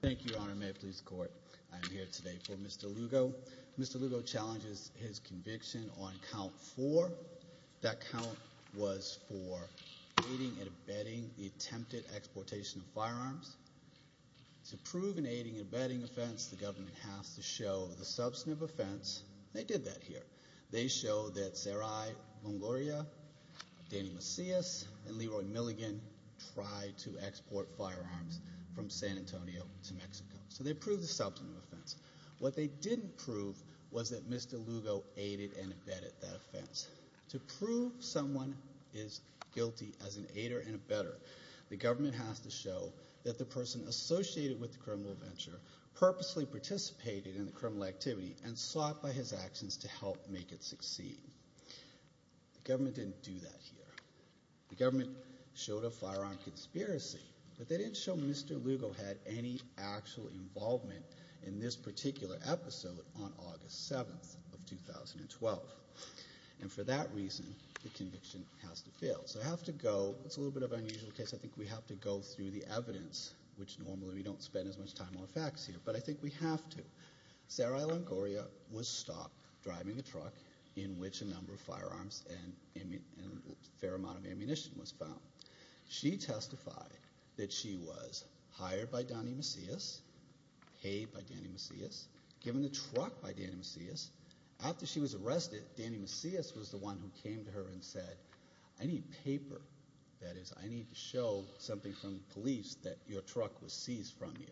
Thank you, Your Honor. May it please the Court, I am here today for Mr. Lugo. Mr. Lugo challenges his conviction on count four. That count was for aiding and abetting the attempted exportation of firearms. To prove an aiding and abetting offense, the government has to show the substantive offense. They did that here. They show that Sarai Mongoria, Danny Macias, and Leroy Milligan tried to export firearms from San Antonio to Mexico. So they proved the substantive offense. What they didn't prove was that Mr. Lugo aided and abetted that offense. To prove someone is guilty as an aider and abetter, the government has to show that the person associated with the criminal venture purposely participated in the criminal activity and sought by his actions to help make it succeed. The government didn't do that here. The government showed a firearm conspiracy, but they didn't show Mr. Lugo had any actual involvement in this particular episode on August 7th of 2012. And for that reason, the conviction has to fail. So I have to go, it's a little bit of an unusual case, I think we have to go through the evidence, which normally we don't spend as much time on facts here, but I think we have to. Sarai Mongoria was stopped driving a truck in which a number of firearms and a fair amount of ammunition was found. She testified that she was hired by Danny Macias, paid by Danny Macias, given a truck by Danny Macias. After she was arrested, Danny Macias was the one who came to her and said, I need paper. That is, I need to show something from police that your truck was seized from you.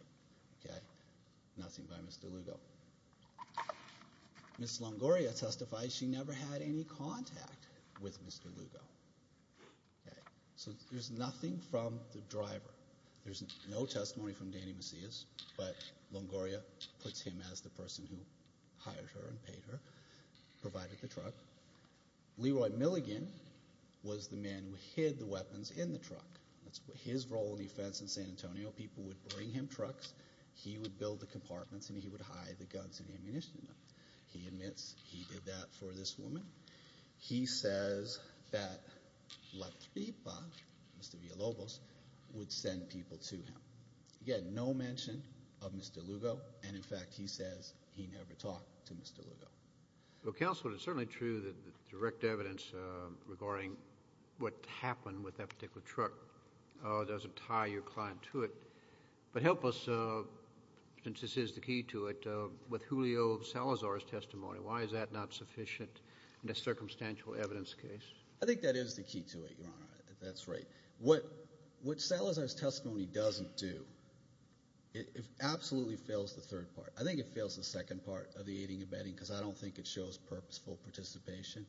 Nothing by Mr. Lugo. Ms. Mongoria testified she never had any contact with Mr. Lugo. So there's nothing from the driver. There's no testimony from Danny Macias, but Mongoria puts him as the person who hired her and paid her, provided the truck. Leroy Milligan was the man who hid the weapons in the truck. His role in the offense in San Antonio, people would bring him trucks, he would build the trucks for this woman. He says that La Tripa, Mr. Villalobos, would send people to him. Again, no mention of Mr. Lugo, and in fact he says he never talked to Mr. Lugo. Well, Counselor, it's certainly true that the direct evidence regarding what happened with that particular truck doesn't tie your client to it, but help us, since this is the most recent and a circumstantial evidence case. I think that is the key to it, Your Honor. That's right. What Salazar's testimony doesn't do, it absolutely fails the third part. I think it fails the second part of the aiding and abetting because I don't think it shows purposeful participation.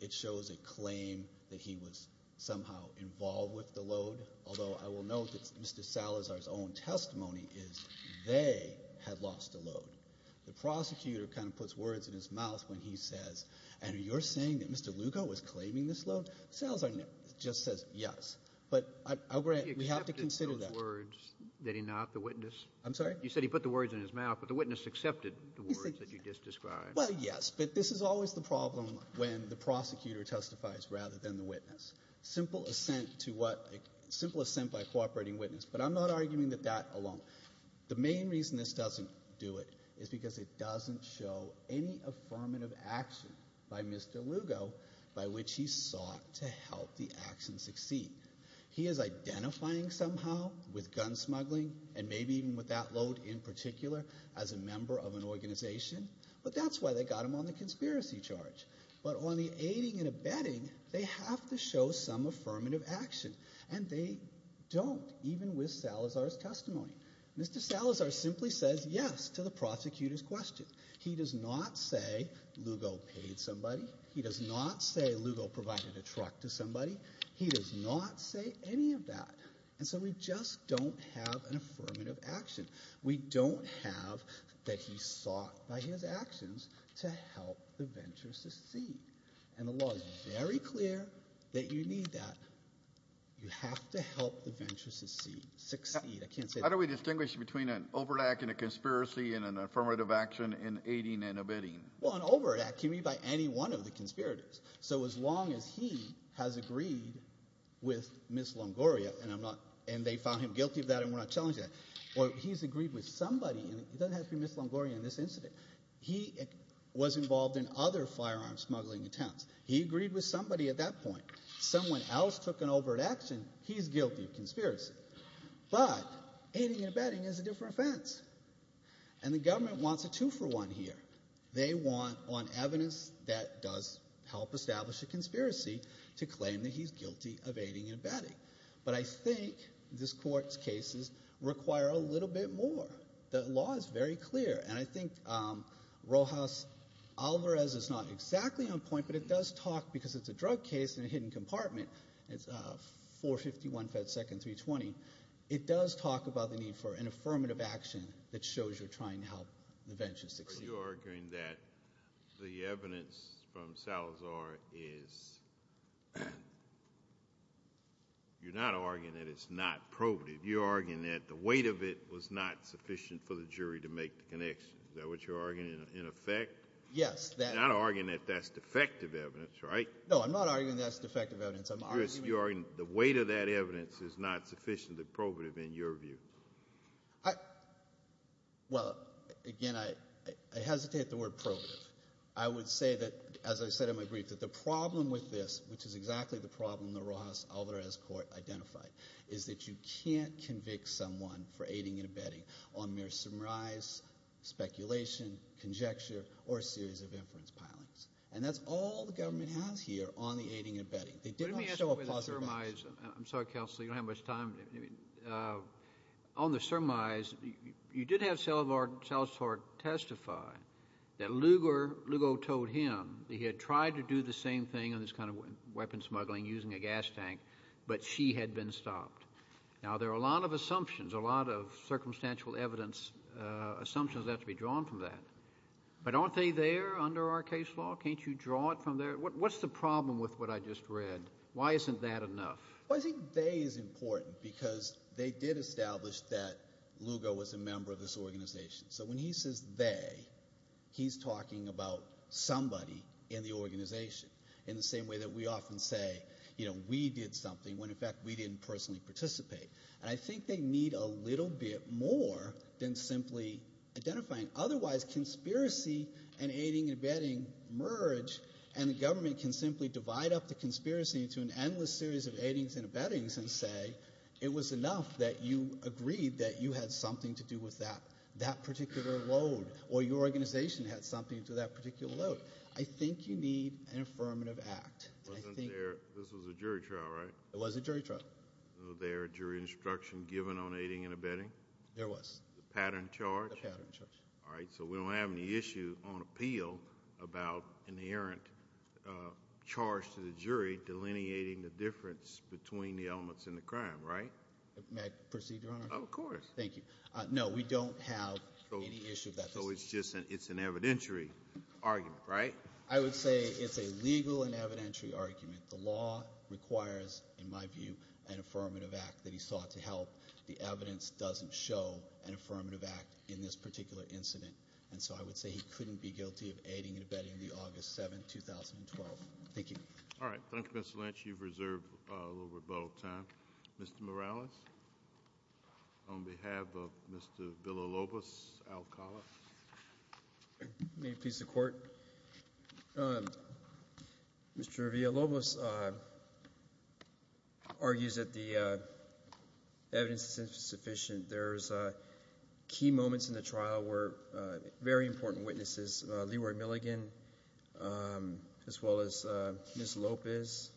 It shows a claim that he was somehow involved with the load, although I will note that Mr. Salazar's own testimony is they had lost the load. The prosecutor kind of puts words in his mouth when he said what he says, and you're saying that Mr. Lugo was claiming this load? Salazar just says yes, but we have to consider that. He accepted those words, did he not, the witness? I'm sorry? You said he put the words in his mouth, but the witness accepted the words that you just described. Well, yes, but this is always the problem when the prosecutor testifies rather than the witness. Simple assent to what — simple assent by a cooperating witness, but I'm not arguing that that alone. The main reason this doesn't do it is because it doesn't show any affirmative action by Mr. Lugo by which he sought to help the action succeed. He is identifying somehow with gun smuggling and maybe even with that load in particular as a member of an organization, but that's why they got him on the conspiracy charge. But on the aiding and abetting, they have to show some affirmative action, and they don't, even with Salazar's testimony. Mr. Salazar simply says yes to the prosecutor's question. He does not say Lugo paid somebody. He does not say Lugo provided a truck to somebody. He does not say any of that. And so we just don't have an affirmative action. We don't have that he sought by his actions to help the venture succeed. And the law is very clear that you need that. You have to help the venture succeed. I can't say that. How do we distinguish between an overt act and a conspiracy and an affirmative action in aiding and abetting? Well, an overt act can be by any one of the conspirators. So as long as he has agreed with Ms. Longoria, and they found him guilty of that and we're not challenging that, or he's agreed with somebody, and it doesn't have to be Ms. Longoria in this incident. He was involved in other firearm smuggling attempts. He agreed with somebody at that point. Someone else took an overt action. He's guilty of conspiracy. But aiding and abetting is a different offense. And the government wants a two-for-one here. They want evidence that does help establish a conspiracy to claim that he's guilty of aiding and abetting. But I think this Court's cases require a little bit more. The law is very clear. And I think Rojas Alvarez is not exactly on point, but it does talk, because it's a drug case in a hidden compartment. It's 451 FedSecond320. It does talk about the need for an affirmative action that shows you're trying to help the bench succeed. Are you arguing that the evidence from Salazar is – you're not arguing that it's not probative. You're arguing that the weight of it was not sufficient for the jury to make the connection. Is that what you're arguing, in effect? Yes. You're not arguing that that's defective evidence, right? No, I'm not arguing that's defective evidence. I'm arguing – You're arguing the weight of that evidence is not sufficient and probative in your view. I – well, again, I hesitate the word probative. I would say that, as I said in my brief, that the problem with this, which is exactly the problem that Rojas Alvarez's Court identified, is that you can't convict someone for aiding and abetting on mere surmise, speculation, conjecture, or a series of inference pilings. And that's all the government has here on the aiding and abetting. They did not show a possibility. Let me ask you about the surmise. I'm sorry, Counselor, you don't have much time. On the surmise, you did have Salazar testify that Lugo told him that he had tried to do the same thing on this kind of weapon smuggling using a gas tank, but she had been stopped. Now, there are a lot of assumptions, a lot of circumstantial evidence, assumptions that have to be drawn from that. But aren't they there under our case law? Can't you draw it from there? What's the problem with what I just read? Why isn't that enough? Well, I think they is important because they did establish that Lugo was a member of this organization. So when he says they, he's talking about somebody in the organization in the same way that we often say, you know, we did something when in fact we didn't personally participate. And I think they need a little bit more than simply identifying. Otherwise, conspiracy and aiding and abetting merge and the government can simply divide up the conspiracy into an endless series of aidings and abettings and say it was enough that you agreed that you had something to do with that particular load or your organization had something to do with that particular load. I think you need an affirmative act. Wasn't there, this was a jury trial, right? It was a jury trial. Was there a jury instruction given on aiding and abetting? There was. The pattern charge? The pattern charge. All right. So we don't have any issue on appeal about an errant charge to the jury delineating the difference between the elements in the crime, right? May I proceed, Your Honor? Of course. Thank you. No, we don't have any issue with that. So it's just an, it's an evidentiary argument, right? I would say it's a legal and evidentiary argument. The law requires, in my view, an affirmative act that he sought to help. The evidence doesn't show an affirmative act in this particular incident, and so I would say he couldn't be guilty of aiding and abetting the August 7, 2012. Thank you. All right. Thank you, Mr. Lynch. You've reserved a little bit of time. Mr. Morales, on behalf of Mr. Villalobos, I'll call it. May it please the Court? Mr. Villalobos argues that the evidence is insufficient. There's key moments in the trial where very important witnesses, Leroy Milligan as well as Ms. Lopez,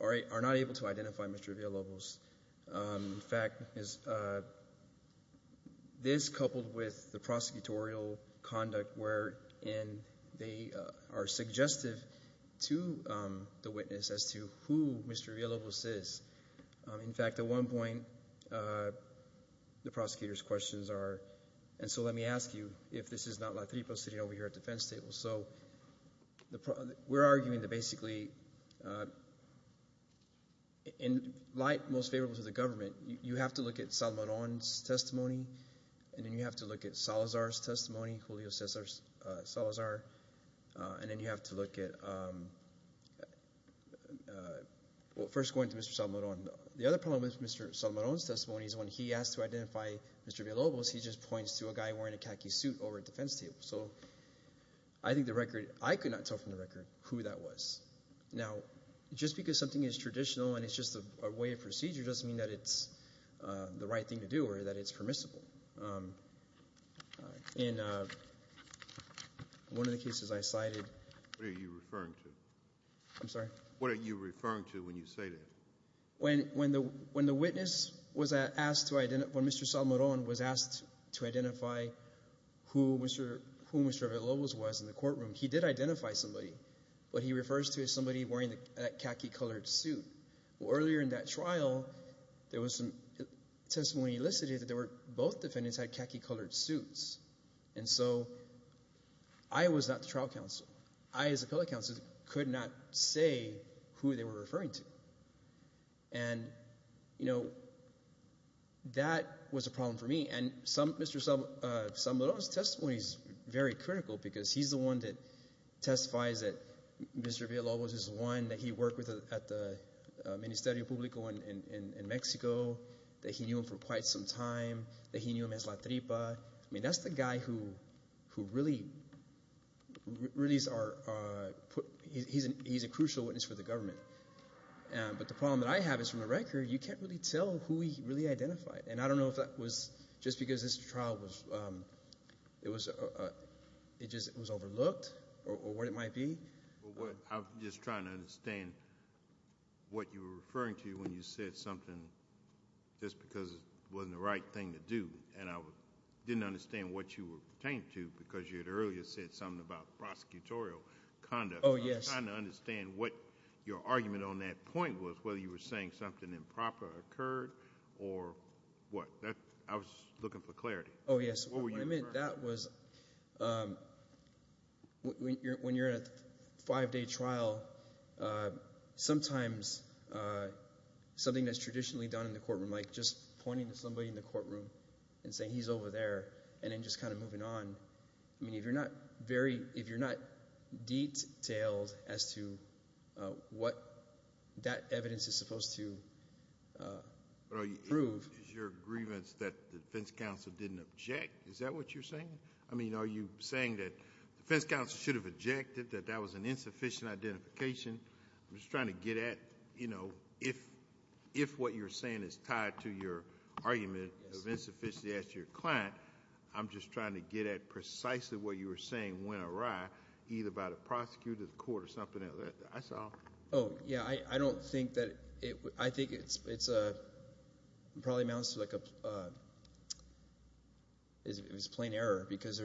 are not able to identify Mr. Villalobos. In fact, this coupled with the prosecutorial conduct wherein they are suggestive to the witness as to who Mr. Villalobos is. In fact, at one point, the prosecutor's questions are, and so let me ask you if this is not Latripo sitting over here at the defense table. So we're arguing that basically in light most favorable to the government, you have to look at Salmaron's testimony and then you have to look at Salazar's testimony, Julio Salazar, and then you have to look at first going to Mr. Salmaron. The other problem with Mr. Salmaron's testimony is when he asked to identify Mr. Villalobos, he just points to a guy wearing a khaki suit over at the defense table. So I think the record, I could not tell from the record who that was. Now, just because something is traditional and it's just a way of procedure doesn't mean that it's the right thing to do or that it's permissible. In one of the cases I cited. What are you referring to? I'm sorry? What are you referring to when you say that? When the witness was asked to identify, when Mr. Salmaron was asked to identify who Mr. Villalobos was in the courtroom, he did identify somebody. What he refers to is somebody wearing that khaki colored suit. Earlier in that trial, there was some testimony elicited that both defendants had khaki colored suits. And so I was not the trial counsel. I, as a public counsel, could not say who they were referring to. And, you know, that was a problem for me. And Mr. Salmaron's testimony is very critical because he's the one that testifies that Mr. Villalobos is the one that he worked with at the Ministerio Público in Mexico, that he knew him for quite some time, that he knew him as La Tripa. I mean, that's the guy who really is a crucial witness for the government. But the problem that I have is, from the record, you can't really tell who he really identified. And I don't know if that was just because this trial was overlooked or what it might be. I'm just trying to understand what you were referring to when you said something just because it wasn't the right thing to do. And I didn't understand what you were pertaining to because you had earlier said something about prosecutorial conduct. Oh, yes. I'm trying to understand what your argument on that point was, whether you were saying something improper occurred or what. I was looking for clarity. Oh, yes. I mean, that was when you're in a five-day trial, sometimes something that's traditionally done in the courtroom, like just pointing to somebody in the courtroom and saying he's over there and then just kind of moving on. I mean, if you're not detailed as to what that evidence is supposed to prove— Is that what you're saying? I mean, are you saying that the defense counsel should have objected that that was an insufficient identification? I'm just trying to get at if what you're saying is tied to your argument of insufficiency as to your client, I'm just trying to get at precisely what you were saying went awry either by the prosecutor, the court, or something else. That's all. Oh, yes. I don't think that it— I think it probably amounts to like it was plain error because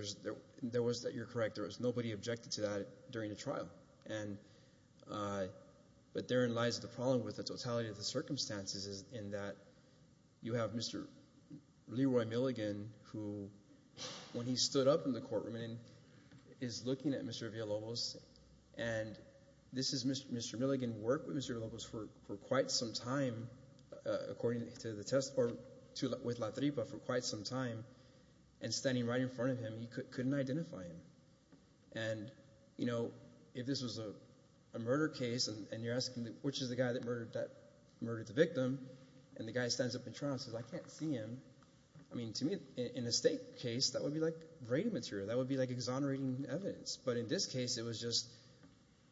there was that you're correct. There was nobody objected to that during the trial. But therein lies the problem with the totality of the circumstances in that you have Mr. Leroy Milligan who, when he stood up in the courtroom and is looking at Mr. Villalobos, and this is Mr. Milligan worked with Mr. Villalobos for quite some time according to the testimony with La Tripa for quite some time and standing right in front of him, he couldn't identify him. And, you know, if this was a murder case and you're asking which is the guy that murdered the victim, and the guy stands up in trial and says, I can't see him. I mean, to me, in a state case, that would be like rating material. That would be like exonerating evidence. But in this case, it was just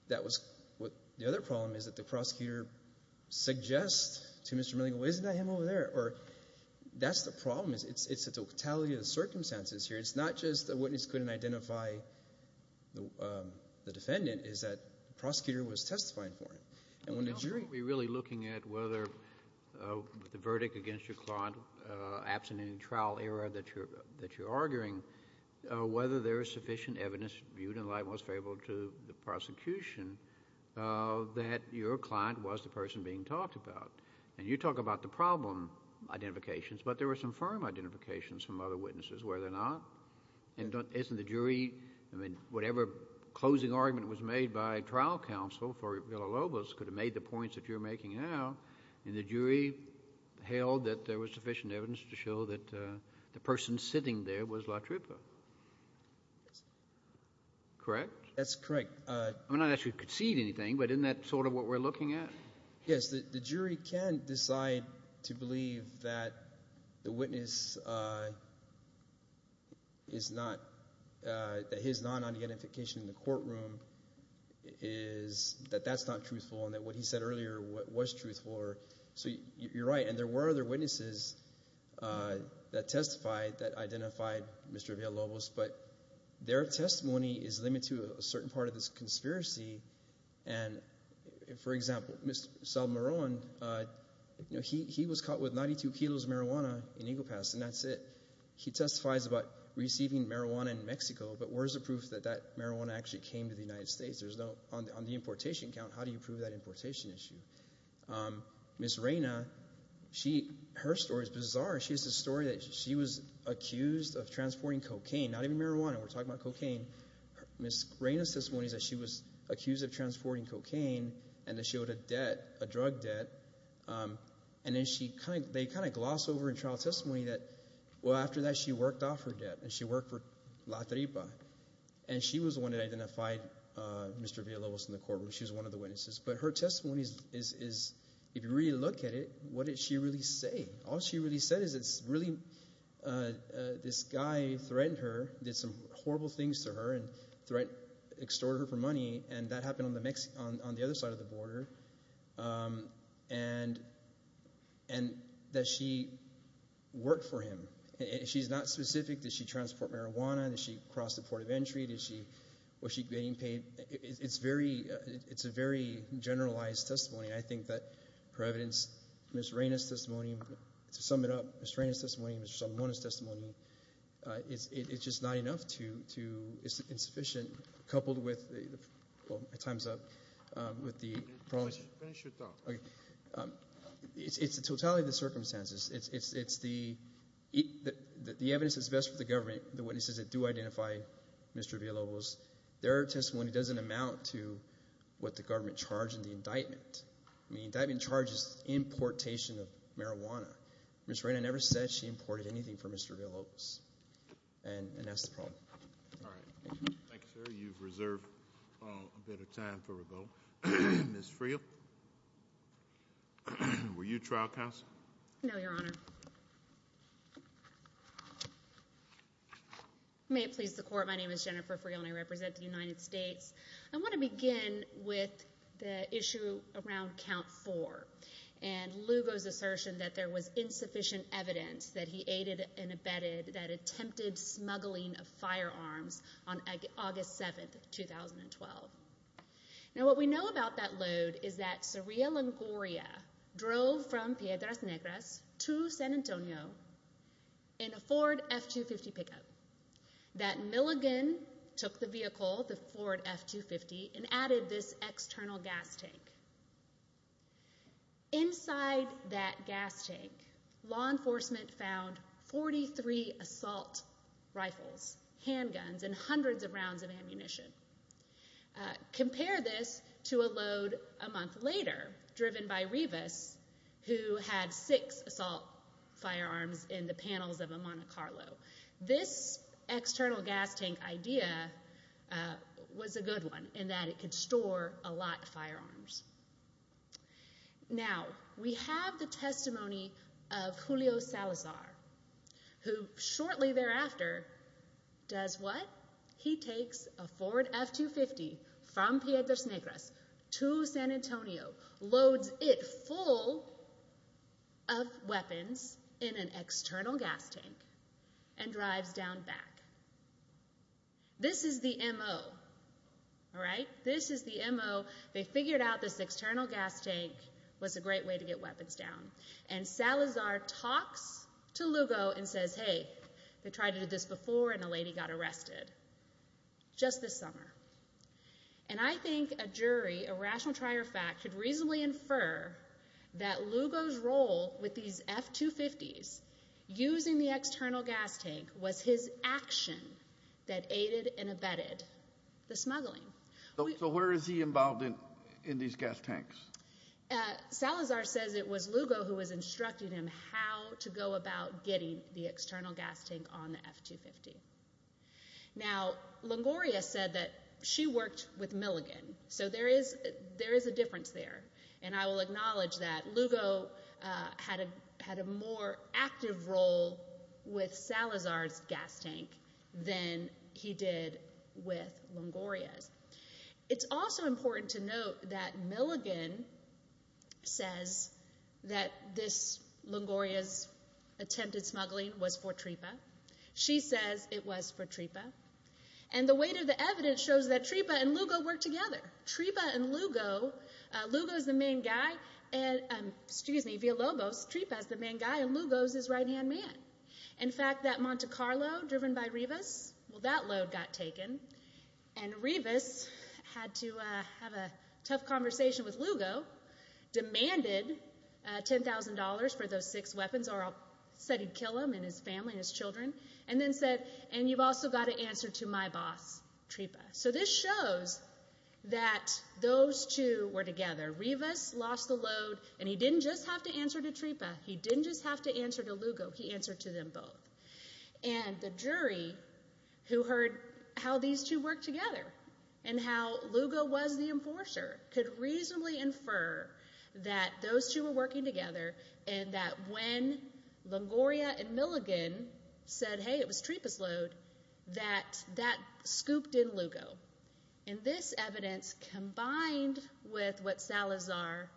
that was what the other problem is that the prosecutor suggests to Mr. Milligan, well, isn't that him over there? Or that's the problem. It's the totality of the circumstances here. It's not just the witness couldn't identify the defendant. It's that the prosecutor was testifying for him. And when the jury— Kennedy, are we really looking at whether the verdict against your client absent any trial error that you're arguing, whether there is sufficient evidence, viewed in the light and most favorable to the prosecution, that your client was the person being talked about? And you talk about the problem identifications, but there were some firm identifications from other witnesses where they're not. And isn't the jury— I mean, whatever closing argument was made by trial counsel for Villa-Lobos could have made the points that you're making now, and the jury held that there was sufficient evidence to show that the person sitting there was LaTrupa. Yes. Correct? That's correct. I mean, I'm not asking you to concede anything, but isn't that sort of what we're looking at? Yes, the jury can decide to believe that the witness is not— that his non-identification in the courtroom is— that that's not truthful and that what he said earlier was truthful. So you're right. And there were other witnesses that testified that identified Mr. Villa-Lobos, but their testimony is limited to a certain part of this conspiracy. And, for example, Mr. Salmaron, he was caught with 92 kilos of marijuana in Eagle Pass, and that's it. He testifies about receiving marijuana in Mexico, but where's the proof that that marijuana actually came to the United States? There's no—on the importation count, how do you prove that importation issue? Ms. Reyna, she—her story is bizarre. She has this story that she was accused of transporting cocaine, not even marijuana. We're talking about cocaine. Ms. Reyna's testimony is that she was accused of transporting cocaine and that she owed a debt, a drug debt. And then she kind of—they kind of gloss over in trial testimony that, well, after that she worked off her debt and she worked for LaTrupa. And she was the one that identified Mr. Villa-Lobos in the courtroom. She was one of the witnesses. But her testimony is—if you really look at it, what did she really say? All she really said is it's really—this guy threatened her, did some horrible things to her and extorted her for money. And that happened on the other side of the border. And that she worked for him. She's not specific. Did she transport marijuana? Did she cross the port of entry? Was she getting paid? It's very—it's a very generalized testimony. I think that, per evidence, Ms. Reyna's testimony, to sum it up, Ms. Reyna's testimony and Mr. Salamone's testimony, it's just not enough to—it's insufficient, coupled with—well, time's up— Finish your talk. Okay. It's the totality of the circumstances. It's the—the evidence is best for the government, the witnesses that do identify Mr. Villa-Lobos. Their testimony doesn't amount to what the government charged in the indictment. I mean, the indictment charges importation of marijuana. Ms. Reyna never said she imported anything from Mr. Villa-Lobos. And that's the problem. All right. Thank you, sir. You've reserved a bit of time for a vote. Ms. Friel, were you trial counsel? No, Your Honor. May it please the Court. Thank you, Your Honor. My name is Jennifer Friel, and I represent the United States. I want to begin with the issue around Count 4 and Lugo's assertion that there was insufficient evidence that he aided and abetted that attempted smuggling of firearms on August 7, 2012. Now, what we know about that load is that Saria Longoria drove from Piedras Negras to San Antonio in a Ford F-250 pickup. That Milligan took the vehicle, the Ford F-250, and added this external gas tank. Inside that gas tank, law enforcement found 43 assault rifles, handguns, and hundreds of rounds of ammunition. Compare this to a load a month later driven by Rivas, who had six assault firearms in the panels of a Monte Carlo. This external gas tank idea was a good one in that it could store a lot of firearms. Now, we have the testimony of Julio Salazar, who shortly thereafter does what? He takes a Ford F-250 from Piedras Negras to San Antonio, loads it full of weapons in an external gas tank, and drives down back. This is the MO, all right? This is the MO. They figured out this external gas tank was a great way to get weapons down. And Salazar talks to Lugo and says, hey, they tried to do this before and a lady got arrested just this summer. And I think a jury, a rational trier of fact, could reasonably infer that Lugo's role with these F-250s using the external gas tank was his action that aided and abetted the smuggling. So where is he involved in these gas tanks? Salazar says it was Lugo who was instructing him how to go about getting the external gas tank on the F-250. Now, Longoria said that she worked with Milligan. So there is a difference there, and I will acknowledge that. Lugo had a more active role with Salazar's gas tank than he did with Longoria's. It's also important to note that Milligan says that this Longoria's attempted smuggling was for TRIPA. She says it was for TRIPA. And the weight of the evidence shows that TRIPA and Lugo worked together. TRIPA and Lugo, Lugo is the main guy, and, excuse me, Villalobos, TRIPA is the main guy, and Lugo is his right-hand man. In fact, that Monte Carlo driven by Rivas, well, that load got taken, and Rivas had to have a tough conversation with Lugo, demanded $10,000 for those six weapons, said he'd kill him and his family and his children, and then said, and you've also got to answer to my boss, TRIPA. So this shows that those two were together. Rivas lost the load, and he didn't just have to answer to TRIPA. He didn't just have to answer to Lugo. He answered to them both. And the jury who heard how these two worked together and how Lugo was the enforcer could reasonably infer that those two were working together and that when Longoria and Milligan said, hey, it was TRIPA's load, that that scooped in Lugo. And this evidence, combined with what Salazar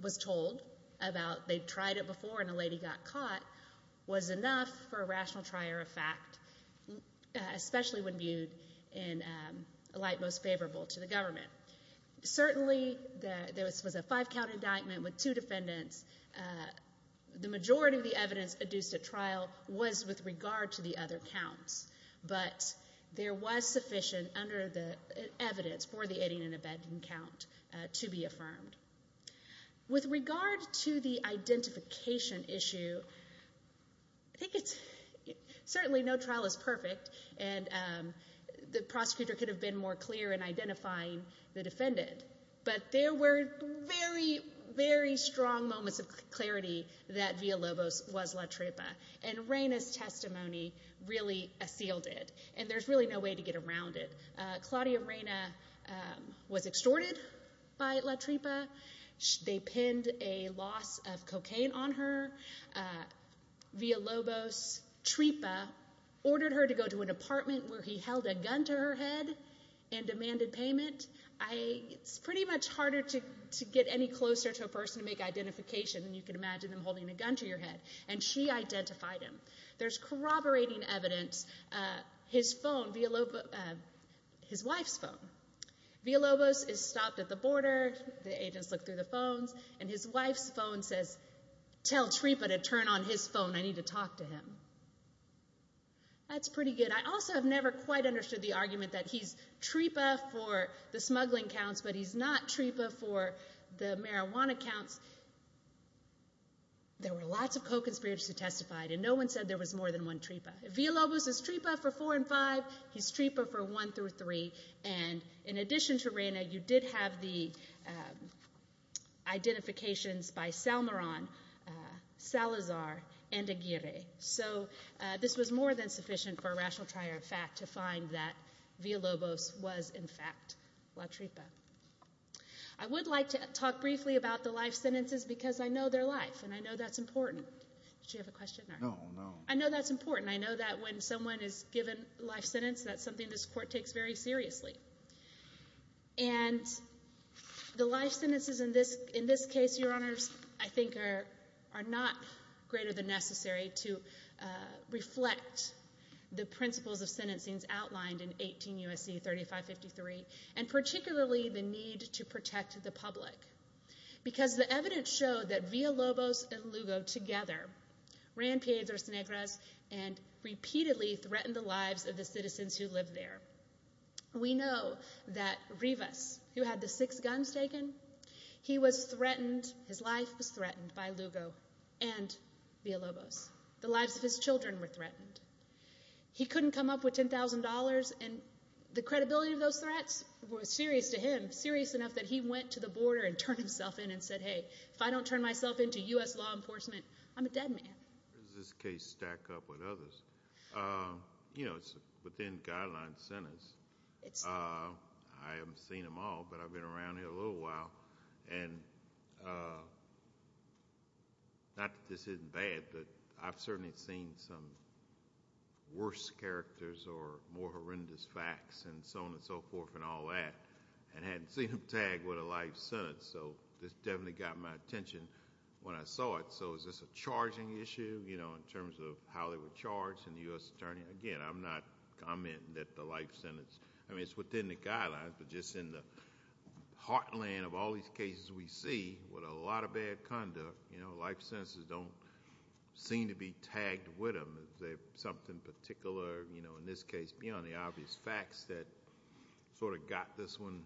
was told about they'd tried it before and a lady got caught, was enough for a rational trier of fact, especially when viewed in a light most favorable to the government. Certainly, this was a five-count indictment with two defendants. The majority of the evidence adduced at trial was with regard to the other counts, but there was sufficient under the evidence for the adding and abetting count to be affirmed. With regard to the identification issue, I think it's... certainly no trial is perfect, and the prosecutor could have been more clear in identifying the defendant. But there were very, very strong moments of clarity that Villalobos was La TRIPA, and Reyna's testimony really assailed it, and there's really no way to get around it. Claudia Reyna was extorted by La TRIPA. They pinned a loss of cocaine on her. Villalobos' TRIPA ordered her to go to an apartment where he held a gun to her head and demanded payment. It's pretty much harder to get any closer to a person to make identification than you can imagine them holding a gun to your head. And she identified him. There's corroborating evidence. His phone, Villalobos... his wife's phone. Villalobos is stopped at the border. The agents look through the phones, and his wife's phone says, tell TRIPA to turn on his phone. I need to talk to him. That's pretty good. I also have never quite understood the argument that he's TRIPA for the smuggling counts, but he's not TRIPA for the marijuana counts. There were lots of co-conspirators who testified, and no one said there was more than one TRIPA. Villalobos is TRIPA for 4 and 5. He's TRIPA for 1 through 3. And in addition to Reyna, you did have the identifications by Salmaran, Salazar, and Aguirre. So this was more than sufficient for a rational trier of fact to find that Villalobos was in fact La TRIPA. I would like to talk briefly about the life sentences because I know their life, and I know that's important. Did you have a question? No, no. I know that's important. I know that when someone is given a life sentence, that's something this court takes very seriously. And the life sentences in this case, Your Honors, I think are not greater than necessary to reflect the principles of sentencing outlined in 18 U.S.C. 3553, and particularly the need to protect the public. Because the evidence showed that Villalobos and Lugo together ran Piedras Negras and repeatedly threatened the lives of the citizens who lived there. We know that Rivas, who had the six guns taken, he was threatened, his life was threatened by Lugo and Villalobos. The lives of his children were threatened. He couldn't come up with $10,000, and the credibility of those threats was serious to him, serious enough that he went to the border and turned himself in and said, hey, if I don't turn myself in to U.S. law enforcement, I'm a dead man. Where does this case stack up with others? You know, it's within guideline sentence. I haven't seen them all, but I've been around here a little while, and not that this isn't bad, but I've certainly seen some worse characters or more horrendous facts and so on and so forth and all that, and hadn't seen them tagged with a life sentence. So this definitely got my attention when I saw it. So is this a charging issue, you know, in terms of how they were charged in the U.S. Attorney? Again, I'm not commenting that the life sentence... I mean, it's within the guidelines, but just in the heartland of all these cases we see with a lot of bad conduct, you know, life sentences don't seem to be tagged with them. Is there something particular, you know, in this case beyond the obvious facts that sort of got this one...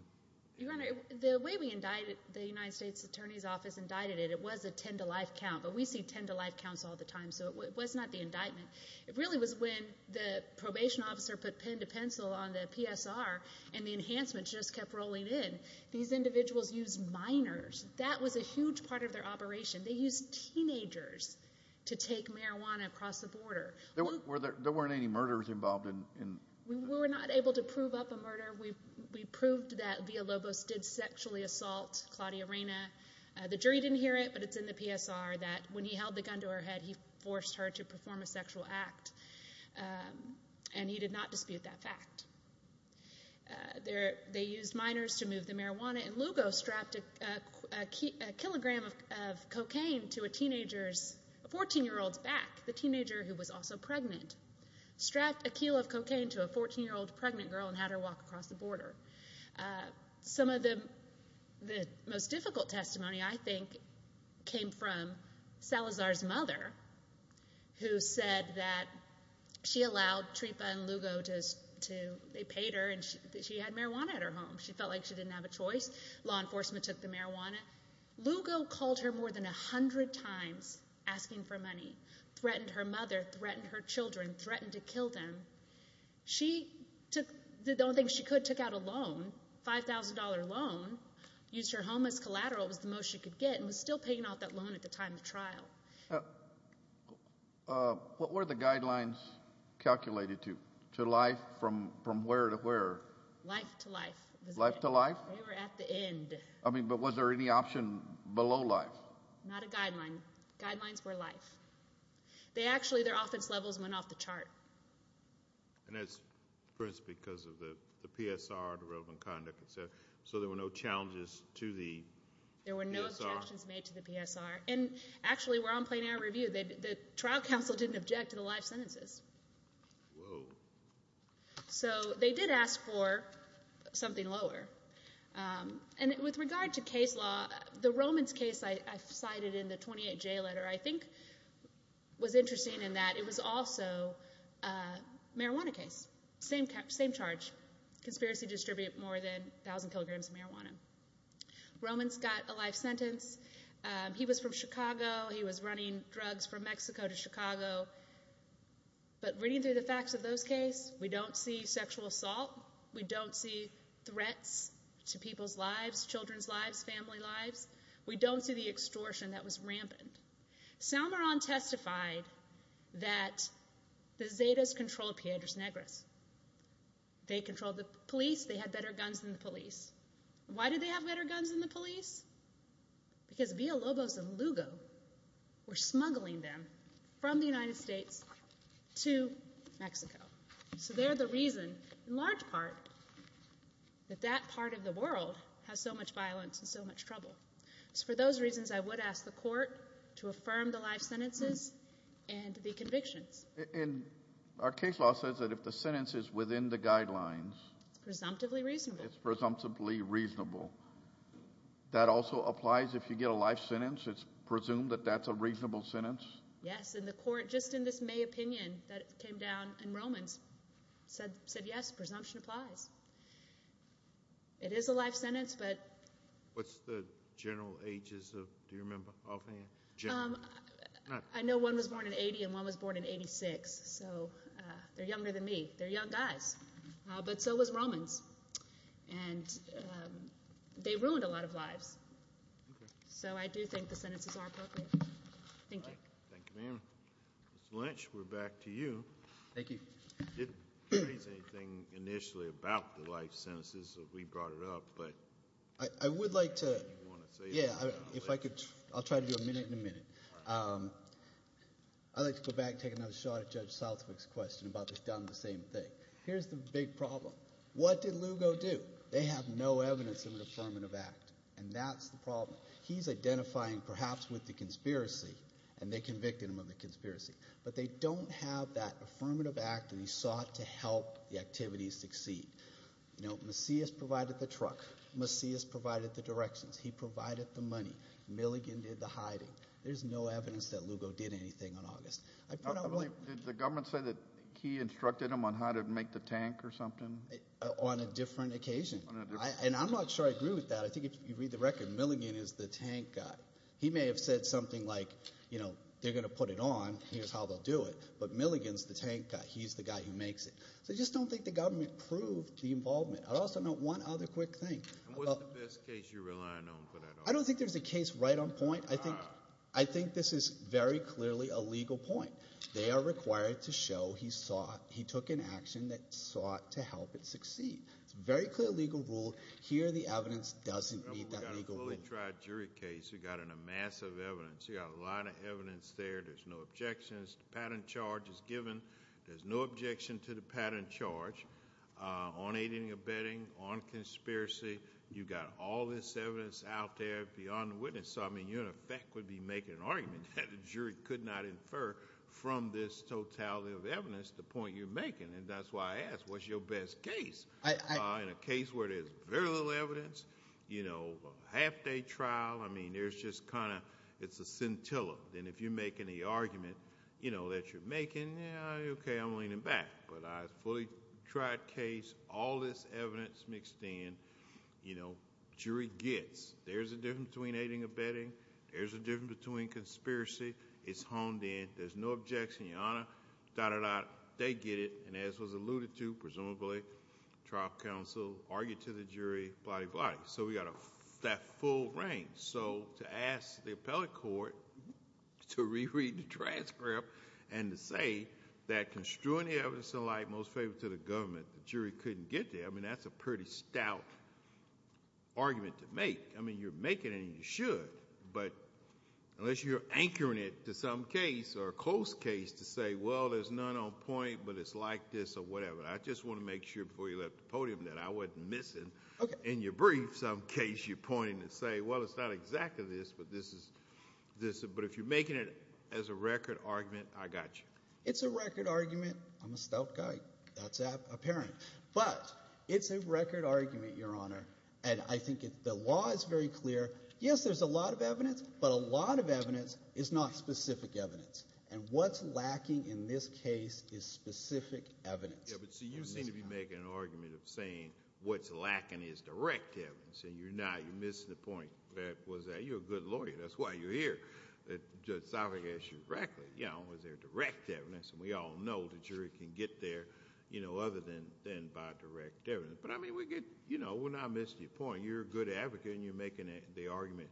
Your Honor, the way we indicted, the United States Attorney's Office indicted it, it was a ten-to-life count, but we see ten-to-life counts all the time, so it was not the indictment. It really was when the probation officer put pen to pencil on the PSR and the enhancements just kept rolling in. These individuals used minors. That was a huge part of their operation. They used teenagers to take marijuana across the border. There weren't any murderers involved in... We were not able to prove up a murder. We proved that Villalobos did sexually assault Claudia Reyna. The jury didn't hear it, but it's in the PSR that when he held the gun to her head, he forced her to perform a sexual act, and he did not dispute that fact. They used minors to move the marijuana, and Lugo strapped a kilogram of cocaine to a teenager's 14-year-old's back. The teenager, who was also pregnant, strapped a kilo of cocaine to a 14-year-old pregnant girl and had her walk across the border. Some of the most difficult testimony, I think, came from Salazar's mother, who said that she allowed Trepa and Lugo to...they paid her, and she had marijuana at her home. She felt like she didn't have a choice. Law enforcement took the marijuana. Lugo called her more than 100 times asking for money, threatened her mother, threatened her children, threatened to kill them. She did the only thing she could, took out a loan, $5,000 loan, used her home as collateral. and was still paying off that loan at the time of trial. What were the guidelines calculated to? To life, from where to where? Life to life. Life to life? They were at the end. I mean, but was there any option below life? Not a guideline. Guidelines were life. They actually, their offense levels went off the chart. And that's because of the PSR, the relevant conduct, et cetera, so there were no challenges to the PSR? There were no objections made to the PSR. And actually, we're on plain air review. The trial counsel didn't object to the life sentences. Whoa. So they did ask for something lower. And with regard to case law, the Romans case I cited in the 28J letter, I think was interesting in that it was also a marijuana case. Same charge. Conspiracy to distribute more than 1,000 kilograms of marijuana. Romans got a life sentence. He was from Chicago. He was running drugs from Mexico to Chicago. But reading through the facts of those cases, we don't see sexual assault. We don't see threats to people's lives, children's lives, family lives. We don't see the extortion that was rampant. Salmeron testified that the Zetas controlled Piedras Negras. They controlled the police. They had better guns than the police. Why did they have better guns than the police? Because Villalobos and Lugo were smuggling them from the United States to Mexico. So they're the reason, in large part, that that part of the world has so much violence and so much trouble. So for those reasons, I would ask the court to affirm the life sentences and the convictions. And our case law says that if the sentence is within the guidelines... It's presumptively reasonable. That also applies if you get a life sentence? It's presumed that that's a reasonable sentence? Yes, and the court, just in this May opinion that came down in Romans, said, yes, presumption applies. It is a life sentence, but... What's the general ages of... Do you remember offhand? I know one was born in 80, and one was born in 86. So they're younger than me. They're young guys. But so was Romans. And they ruined a lot of lives. Okay. So I do think the sentences are appropriate. Thank you. Thank you, ma'am. Mr. Lynch, we're back to you. Thank you. You didn't raise anything initially about the life sentences if we brought it up, but... I would like to... Yeah, if I could... I'll try to do a minute and a minute. I'd like to go back and take another shot at Judge Southwick's question about this down to the same thing. Here's the big problem. What did Lugo do? They have no evidence of an affirmative act, and that's the problem. He's identifying perhaps with the conspiracy, and they convicted him of the conspiracy. But they don't have that affirmative act, and he sought to help the activity succeed. You know, Macias provided the truck. Macias provided the directions. He provided the money. Milligan did the hiding. There's no evidence that Lugo did anything on August. I put out one... Did the government say that he instructed him on how to make the tank or something? On a different occasion. On a different occasion. And I'm not sure I agree with that. I think if you read the record, Milligan is the tank guy. He may have said something like, you know, they're gonna put it on, here's how they'll do it. But Milligan's the tank guy. He's the guy who makes it. So I just don't think the government proved the involvement. I'd also note one other quick thing. And what's the best case you're relying on for that argument? I don't think there's a case right on point. I think this is very clearly a legal point. They are required to show he sought... It's a very clear legal rule. Here, the evidence doesn't meet that legal rule. We got a fully tried jury case. We got a massive evidence. We got a lot of evidence there. There's no objections. The patent charge is given. There's no objection to the patent charge on aiding or abetting, on conspiracy. You got all this evidence out there beyond the witness. So, I mean, you, in effect, would be making an argument that the jury could not infer from this totality of evidence the point you're making. And that's why I ask, what's your best case? In a case where there's very little evidence, you know, a half-day trial. I mean, there's just kind of... It's a scintilla. And if you're making the argument, you know, that you're making, yeah, okay, I'm leaning back. But a fully tried case, all this evidence mixed in, you know, jury gets. There's a difference between aiding or abetting. There's a difference between conspiracy. It's honed in. There's no objection, Your Honor. Dot, dot, dot. They get it. And as was alluded to, presumably, trial counsel argued to the jury. Blah, blah, blah. So, we got that full range. So, to ask the appellate court to reread the transcript and to say that construing the evidence in light most favorable to the government, the jury couldn't get there. I mean, that's a pretty stout argument to make. I mean, you're making it, and you should. But unless you're anchoring it to some case or a close case to say, well, there's none on point, but it's like this or whatever. I just want to make sure before you left the podium that I wasn't missing. Okay. In your brief, some case you're pointing to say, well, it's not exactly this, but this is, but if you're making it as a record argument, I got you. It's a record argument. I'm a stout guy. That's apparent. But it's a record argument, Your Honor. And I think the law is very clear. Yes, there's a lot of evidence, but a lot of evidence is not specific evidence. And what's lacking in this case is specific evidence. Yeah, but see, you seem to be making an argument of saying what's lacking is direct evidence, and you're not. You're missing the point. You're a good lawyer. That's why you're here. Judge Salford asked you directly, was there direct evidence? And we all know the jury can get there other than by direct evidence. But I mean, we're not missing the point. You're a good advocate, and you're making the argument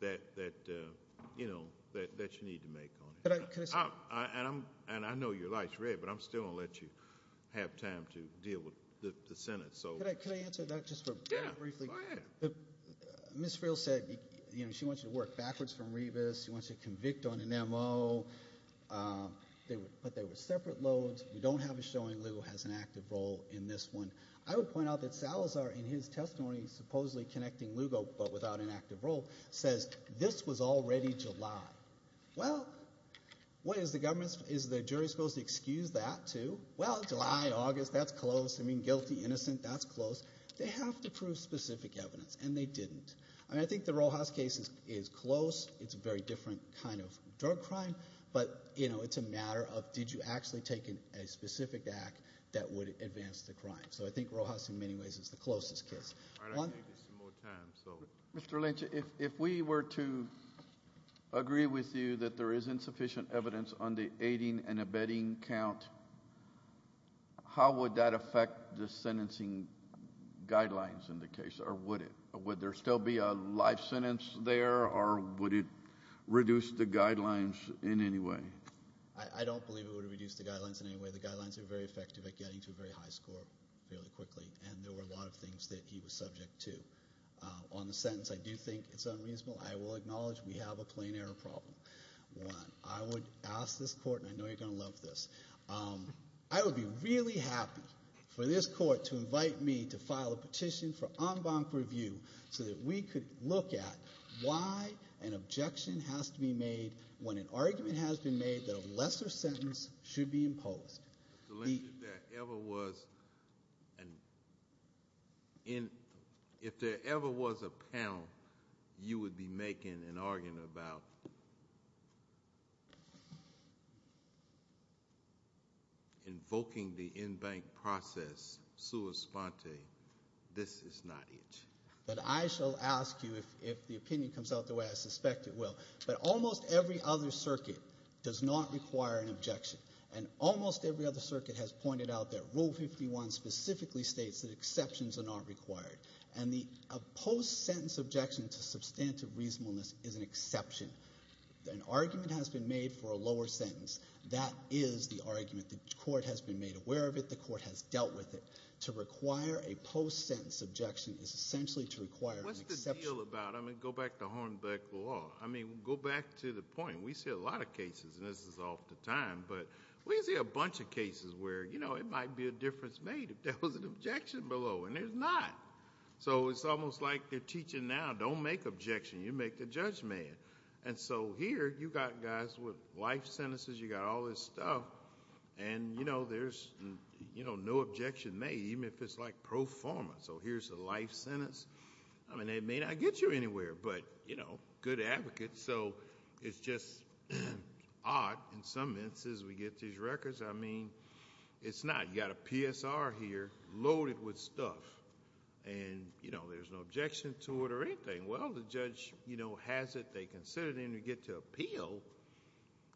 that you need to make on it. And I know your light's red, but I'm still going to let you have time to deal with the sentence. Could I answer that just very briefly? Yeah, go ahead. Ms. Frill said she wants you to work backwards from Rebus. She wants you to convict on an M.O., but they were separate loads. We don't have a showing. Lugo has an active role in this one. I would point out that Salazar, in his testimony, supposedly connecting Lugo but without an active role, says this was already July. Well, what is the government's... Is the jury supposed to excuse that, too? Well, July, August, that's close. I mean, guilty, innocent, that's close. They have to prove specific evidence, and they didn't. I mean, I think the Rojas case is close. It's a very different kind of drug crime, but, you know, it's a matter of, did you actually take a specific act that would advance the crime? So I think Rojas, in many ways, is the closest case. All right, I'm going to give you some more time, so... I agree with you that there is insufficient evidence on the aiding and abetting count. How would that affect the sentencing guidelines in the case, or would it? Would there still be a live sentence there, or would it reduce the guidelines in any way? I don't believe it would reduce the guidelines in any way. The guidelines are very effective at getting to a very high score fairly quickly, and there were a lot of things that he was subject to. On the sentence, I do think it's unreasonable. I will acknowledge we have a plain error problem. One, I would ask this court, and I know you're going to love this, I would be really happy for this court to invite me to file a petition for en banc review so that we could look at why an objection has to be made when an argument has been made that a lesser sentence should be imposed. If there ever was an... If there ever was a pound, you would be making an argument about... invoking the en banc process sua sponte. This is not it. But I shall ask you, if the opinion comes out the way I suspect it will, that almost every other circuit does not require an objection, and almost every other circuit has pointed out that Rule 51 specifically states that exceptions are not required, and the post-sentence objection to substantive reasonableness is an exception. An argument has been made for a lower sentence. That is the argument. The court has been made aware of it. The court has dealt with it. To require a post-sentence objection is essentially to require an exception. What's the deal about... I mean, go back to Hornbeck law. I mean, go back to the point. We see a lot of cases, and this is off the time, but we see a bunch of cases where, you know, it might be a difference made if there was an objection below, and there's not. So it's almost like they're teaching now, don't make objections, you make the judgment. And so here, you got guys with life sentences, you got all this stuff, and, you know, there's, you know, no objection made, even if it's, like, pro forma. So here's a life sentence. I mean, it may not get you anywhere, but, you know, good advocates, so it's just odd in some instances we get these records. I mean, it's not. You got a PSR here loaded with stuff, and, you know, there's no objection to it or anything. Well, the judge, you know, has it, they consider it, and you get to appeal.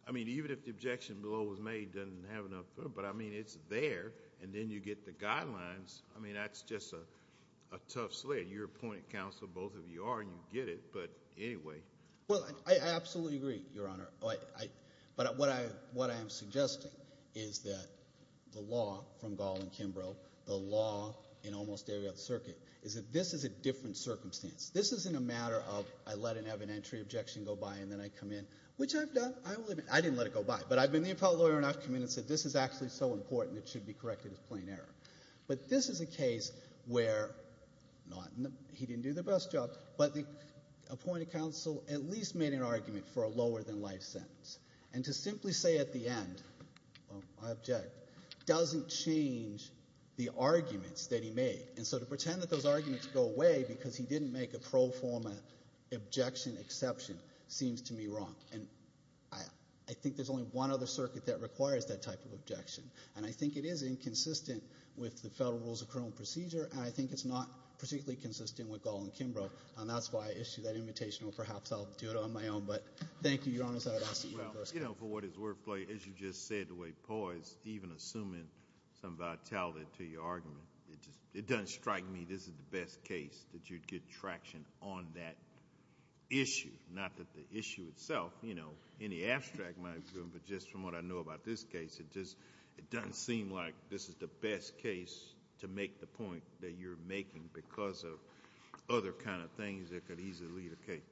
I mean, even if the objection below was made, doesn't have enough... But, I mean, it's there, and then you get the guidelines. I mean, that's just a tough sled. You're appointed counsel, both of you are, and you get it, but anyway. Well, I absolutely agree, Your Honor. But what I am suggesting is that the law from Gall and Kimbrough, the law in almost every other circuit, is that this is a different circumstance. This isn't a matter of I let an evidentiary objection go by, and then I come in, which I've done. I didn't let it go by, but I've been the appellate lawyer, and I've come in and said, this is actually so important, it should be corrected as plain error. But this is a case where... He didn't do the best job, but the appointed counsel at least made an argument for a lower-than-life sentence. And to simply say at the end, well, I object, doesn't change the arguments that he made. And so to pretend that those arguments go away because he didn't make a pro forma objection exception seems to me wrong. And I think there's only one other circuit that requires that type of objection, and I think it is inconsistent with the federal rules of criminal procedure, and I think it's not particularly consistent with Gall and Kimbrough, and that's why I issued that invitation, or perhaps I'll do it on my own. But thank you. Your Honor, as you just said, the way Paul is even assuming some vitality to your argument, it doesn't strike me this is the best case that you'd get traction on that issue. Not that the issue itself, you know, any abstract might do, but just from what I know about this case, it doesn't seem like this is the best case to make the point that you're making because of other kind of things that could easily indicate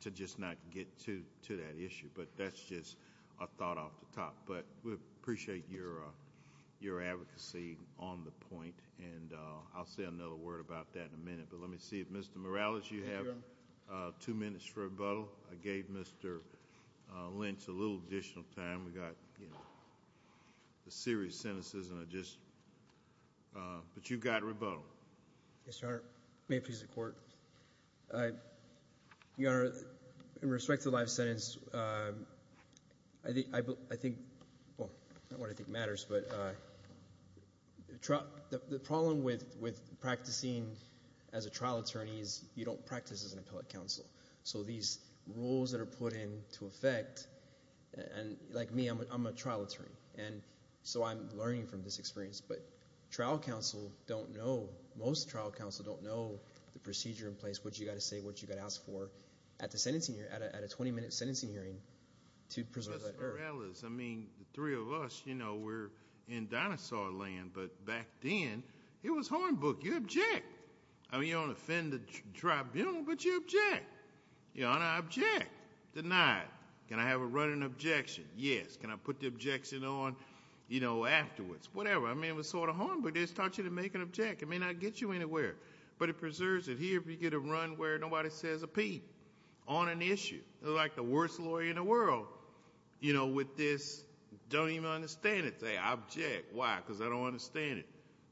to just not get to that issue. But that's just a thought off the top. But we appreciate your advocacy on the point, and I'll say another word about that in a minute. But let me see if Mr. Morales, you have two minutes for rebuttal. I gave Mr. Lynch a little additional time. We got, you know, the serious sentences, and I just... But you got rebuttal. Yes, Your Honor. May it please the Court. Your Honor, in respect to the live sentence, I think... Well, not what I think matters, but the problem with practicing as a trial attorney is you don't practice as an appellate counsel. So these rules that are put in to effect... And like me, I'm a trial attorney, and so I'm learning from this experience. But trial counsel don't know the procedure in place, what you got to say, what you got to ask for at a 20-minute sentencing hearing to preserve that earth. Mr. Morales, I mean, the three of us, you know, we're in dinosaur land, but back then, it was hornbook. You object. I mean, you don't offend the tribunal, but you object. Your Honor, I object. Denied. Can I have a running objection? Yes. Can I put the objection on, you know, afterwards? Whatever. I mean, it was sort of hornbook. It just taught you to make an object. It may not get you anywhere, but it preserves it. Here, if you get a run where nobody says a P on an issue, like the worst lawyer in the world, you know, with this, don't even understand it. Say, I object. Why? Because I don't understand it.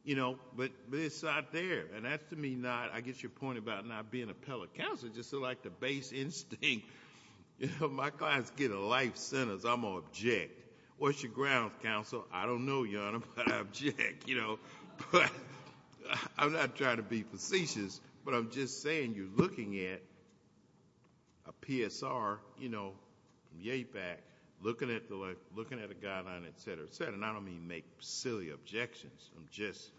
You know, but it's out there, and that's to me not... I guess your point about not being an appellate counsel is just sort of like the base instinct. You know, my clients get a life sentence. I'm going to object. What's your grounds, counsel? I don't know, Your Honor, but I object. You know, but... I'm not trying to be facetious, but I'm just saying you're looking at a PSR, you know, from yea back, looking at a guideline, et cetera, et cetera, and I don't mean make silly objections. I'm just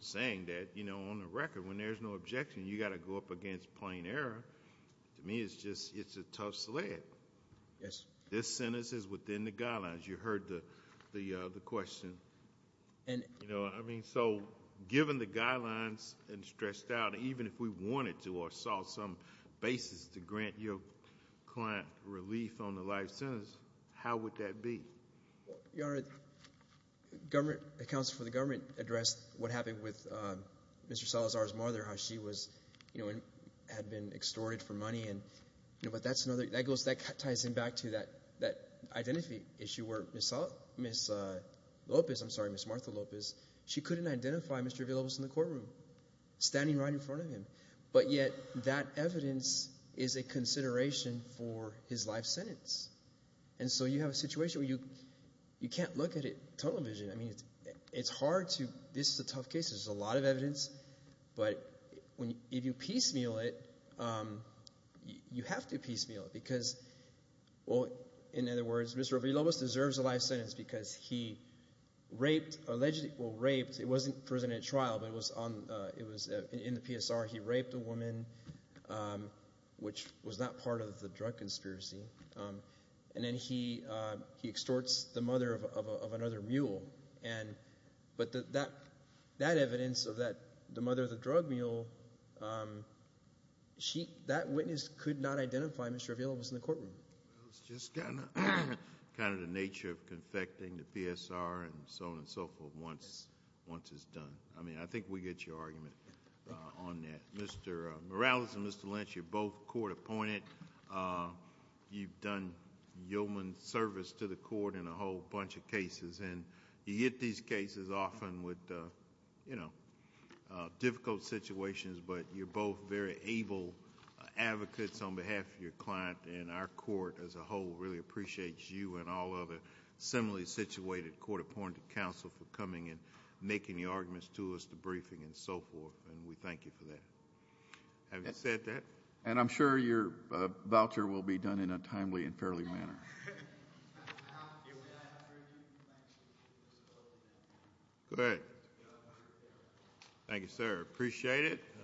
saying that, you know, on the record, when there's no objection, you got to go up against plain error. To me, it's just... it's a tough sled. Yes. This sentence is within the guidelines. You heard the question. You know, I mean, so given the guidelines and stressed out, even if we wanted to or saw some basis to grant your client relief on the life sentence, how would that be? Your Honor, the counsel for the government addressed what happened with Mr. Salazar's mother, how she was, you know, had been extorted for money, and, you know, but that's another... that ties in back to that identity issue where Ms. Lopez, I'm sorry, Ms. Martha Lopez, she couldn't identify Mr. Avilobos in the courtroom, standing right in front of him, but yet that evidence is a consideration for his life sentence. And so you have a situation where you... you can't look at it tunnel vision. I mean, it's hard to... this is a tough case. There's a lot of evidence, but if you piecemeal it, you have to piecemeal it, because, well, in other words, Mr. Avilobos deserves a life sentence because he raped, allegedly... well, raped, it wasn't presented at trial, but it was on... it was in the PSR. He raped a woman, which was not part of the drug conspiracy, and then he extorts the mother of another mule. And... but that evidence of that... the mother of the drug mule, she... that witness could not identify Mr. Avilobos in the courtroom. It's just kind of... kind of the nature of confecting the PSR and so on and so forth once... once it's done. I mean, I think we get your argument on that. Mr. Morales and Mr. Lynch, you're both court-appointed. You've done yeoman service to the court in a whole bunch of cases, and you get these cases often with, you know, difficult situations, but you're both very able advocates on behalf of your client, and our court as a whole really appreciates you and all other similarly-situated court-appointed counsel for coming and making the arguments to us, the briefing and so forth, and we thank you for that. Have you said that? And I'm sure your voucher will be done in a timely and fairly manner. Go ahead. Thank you, sir. Appreciate it.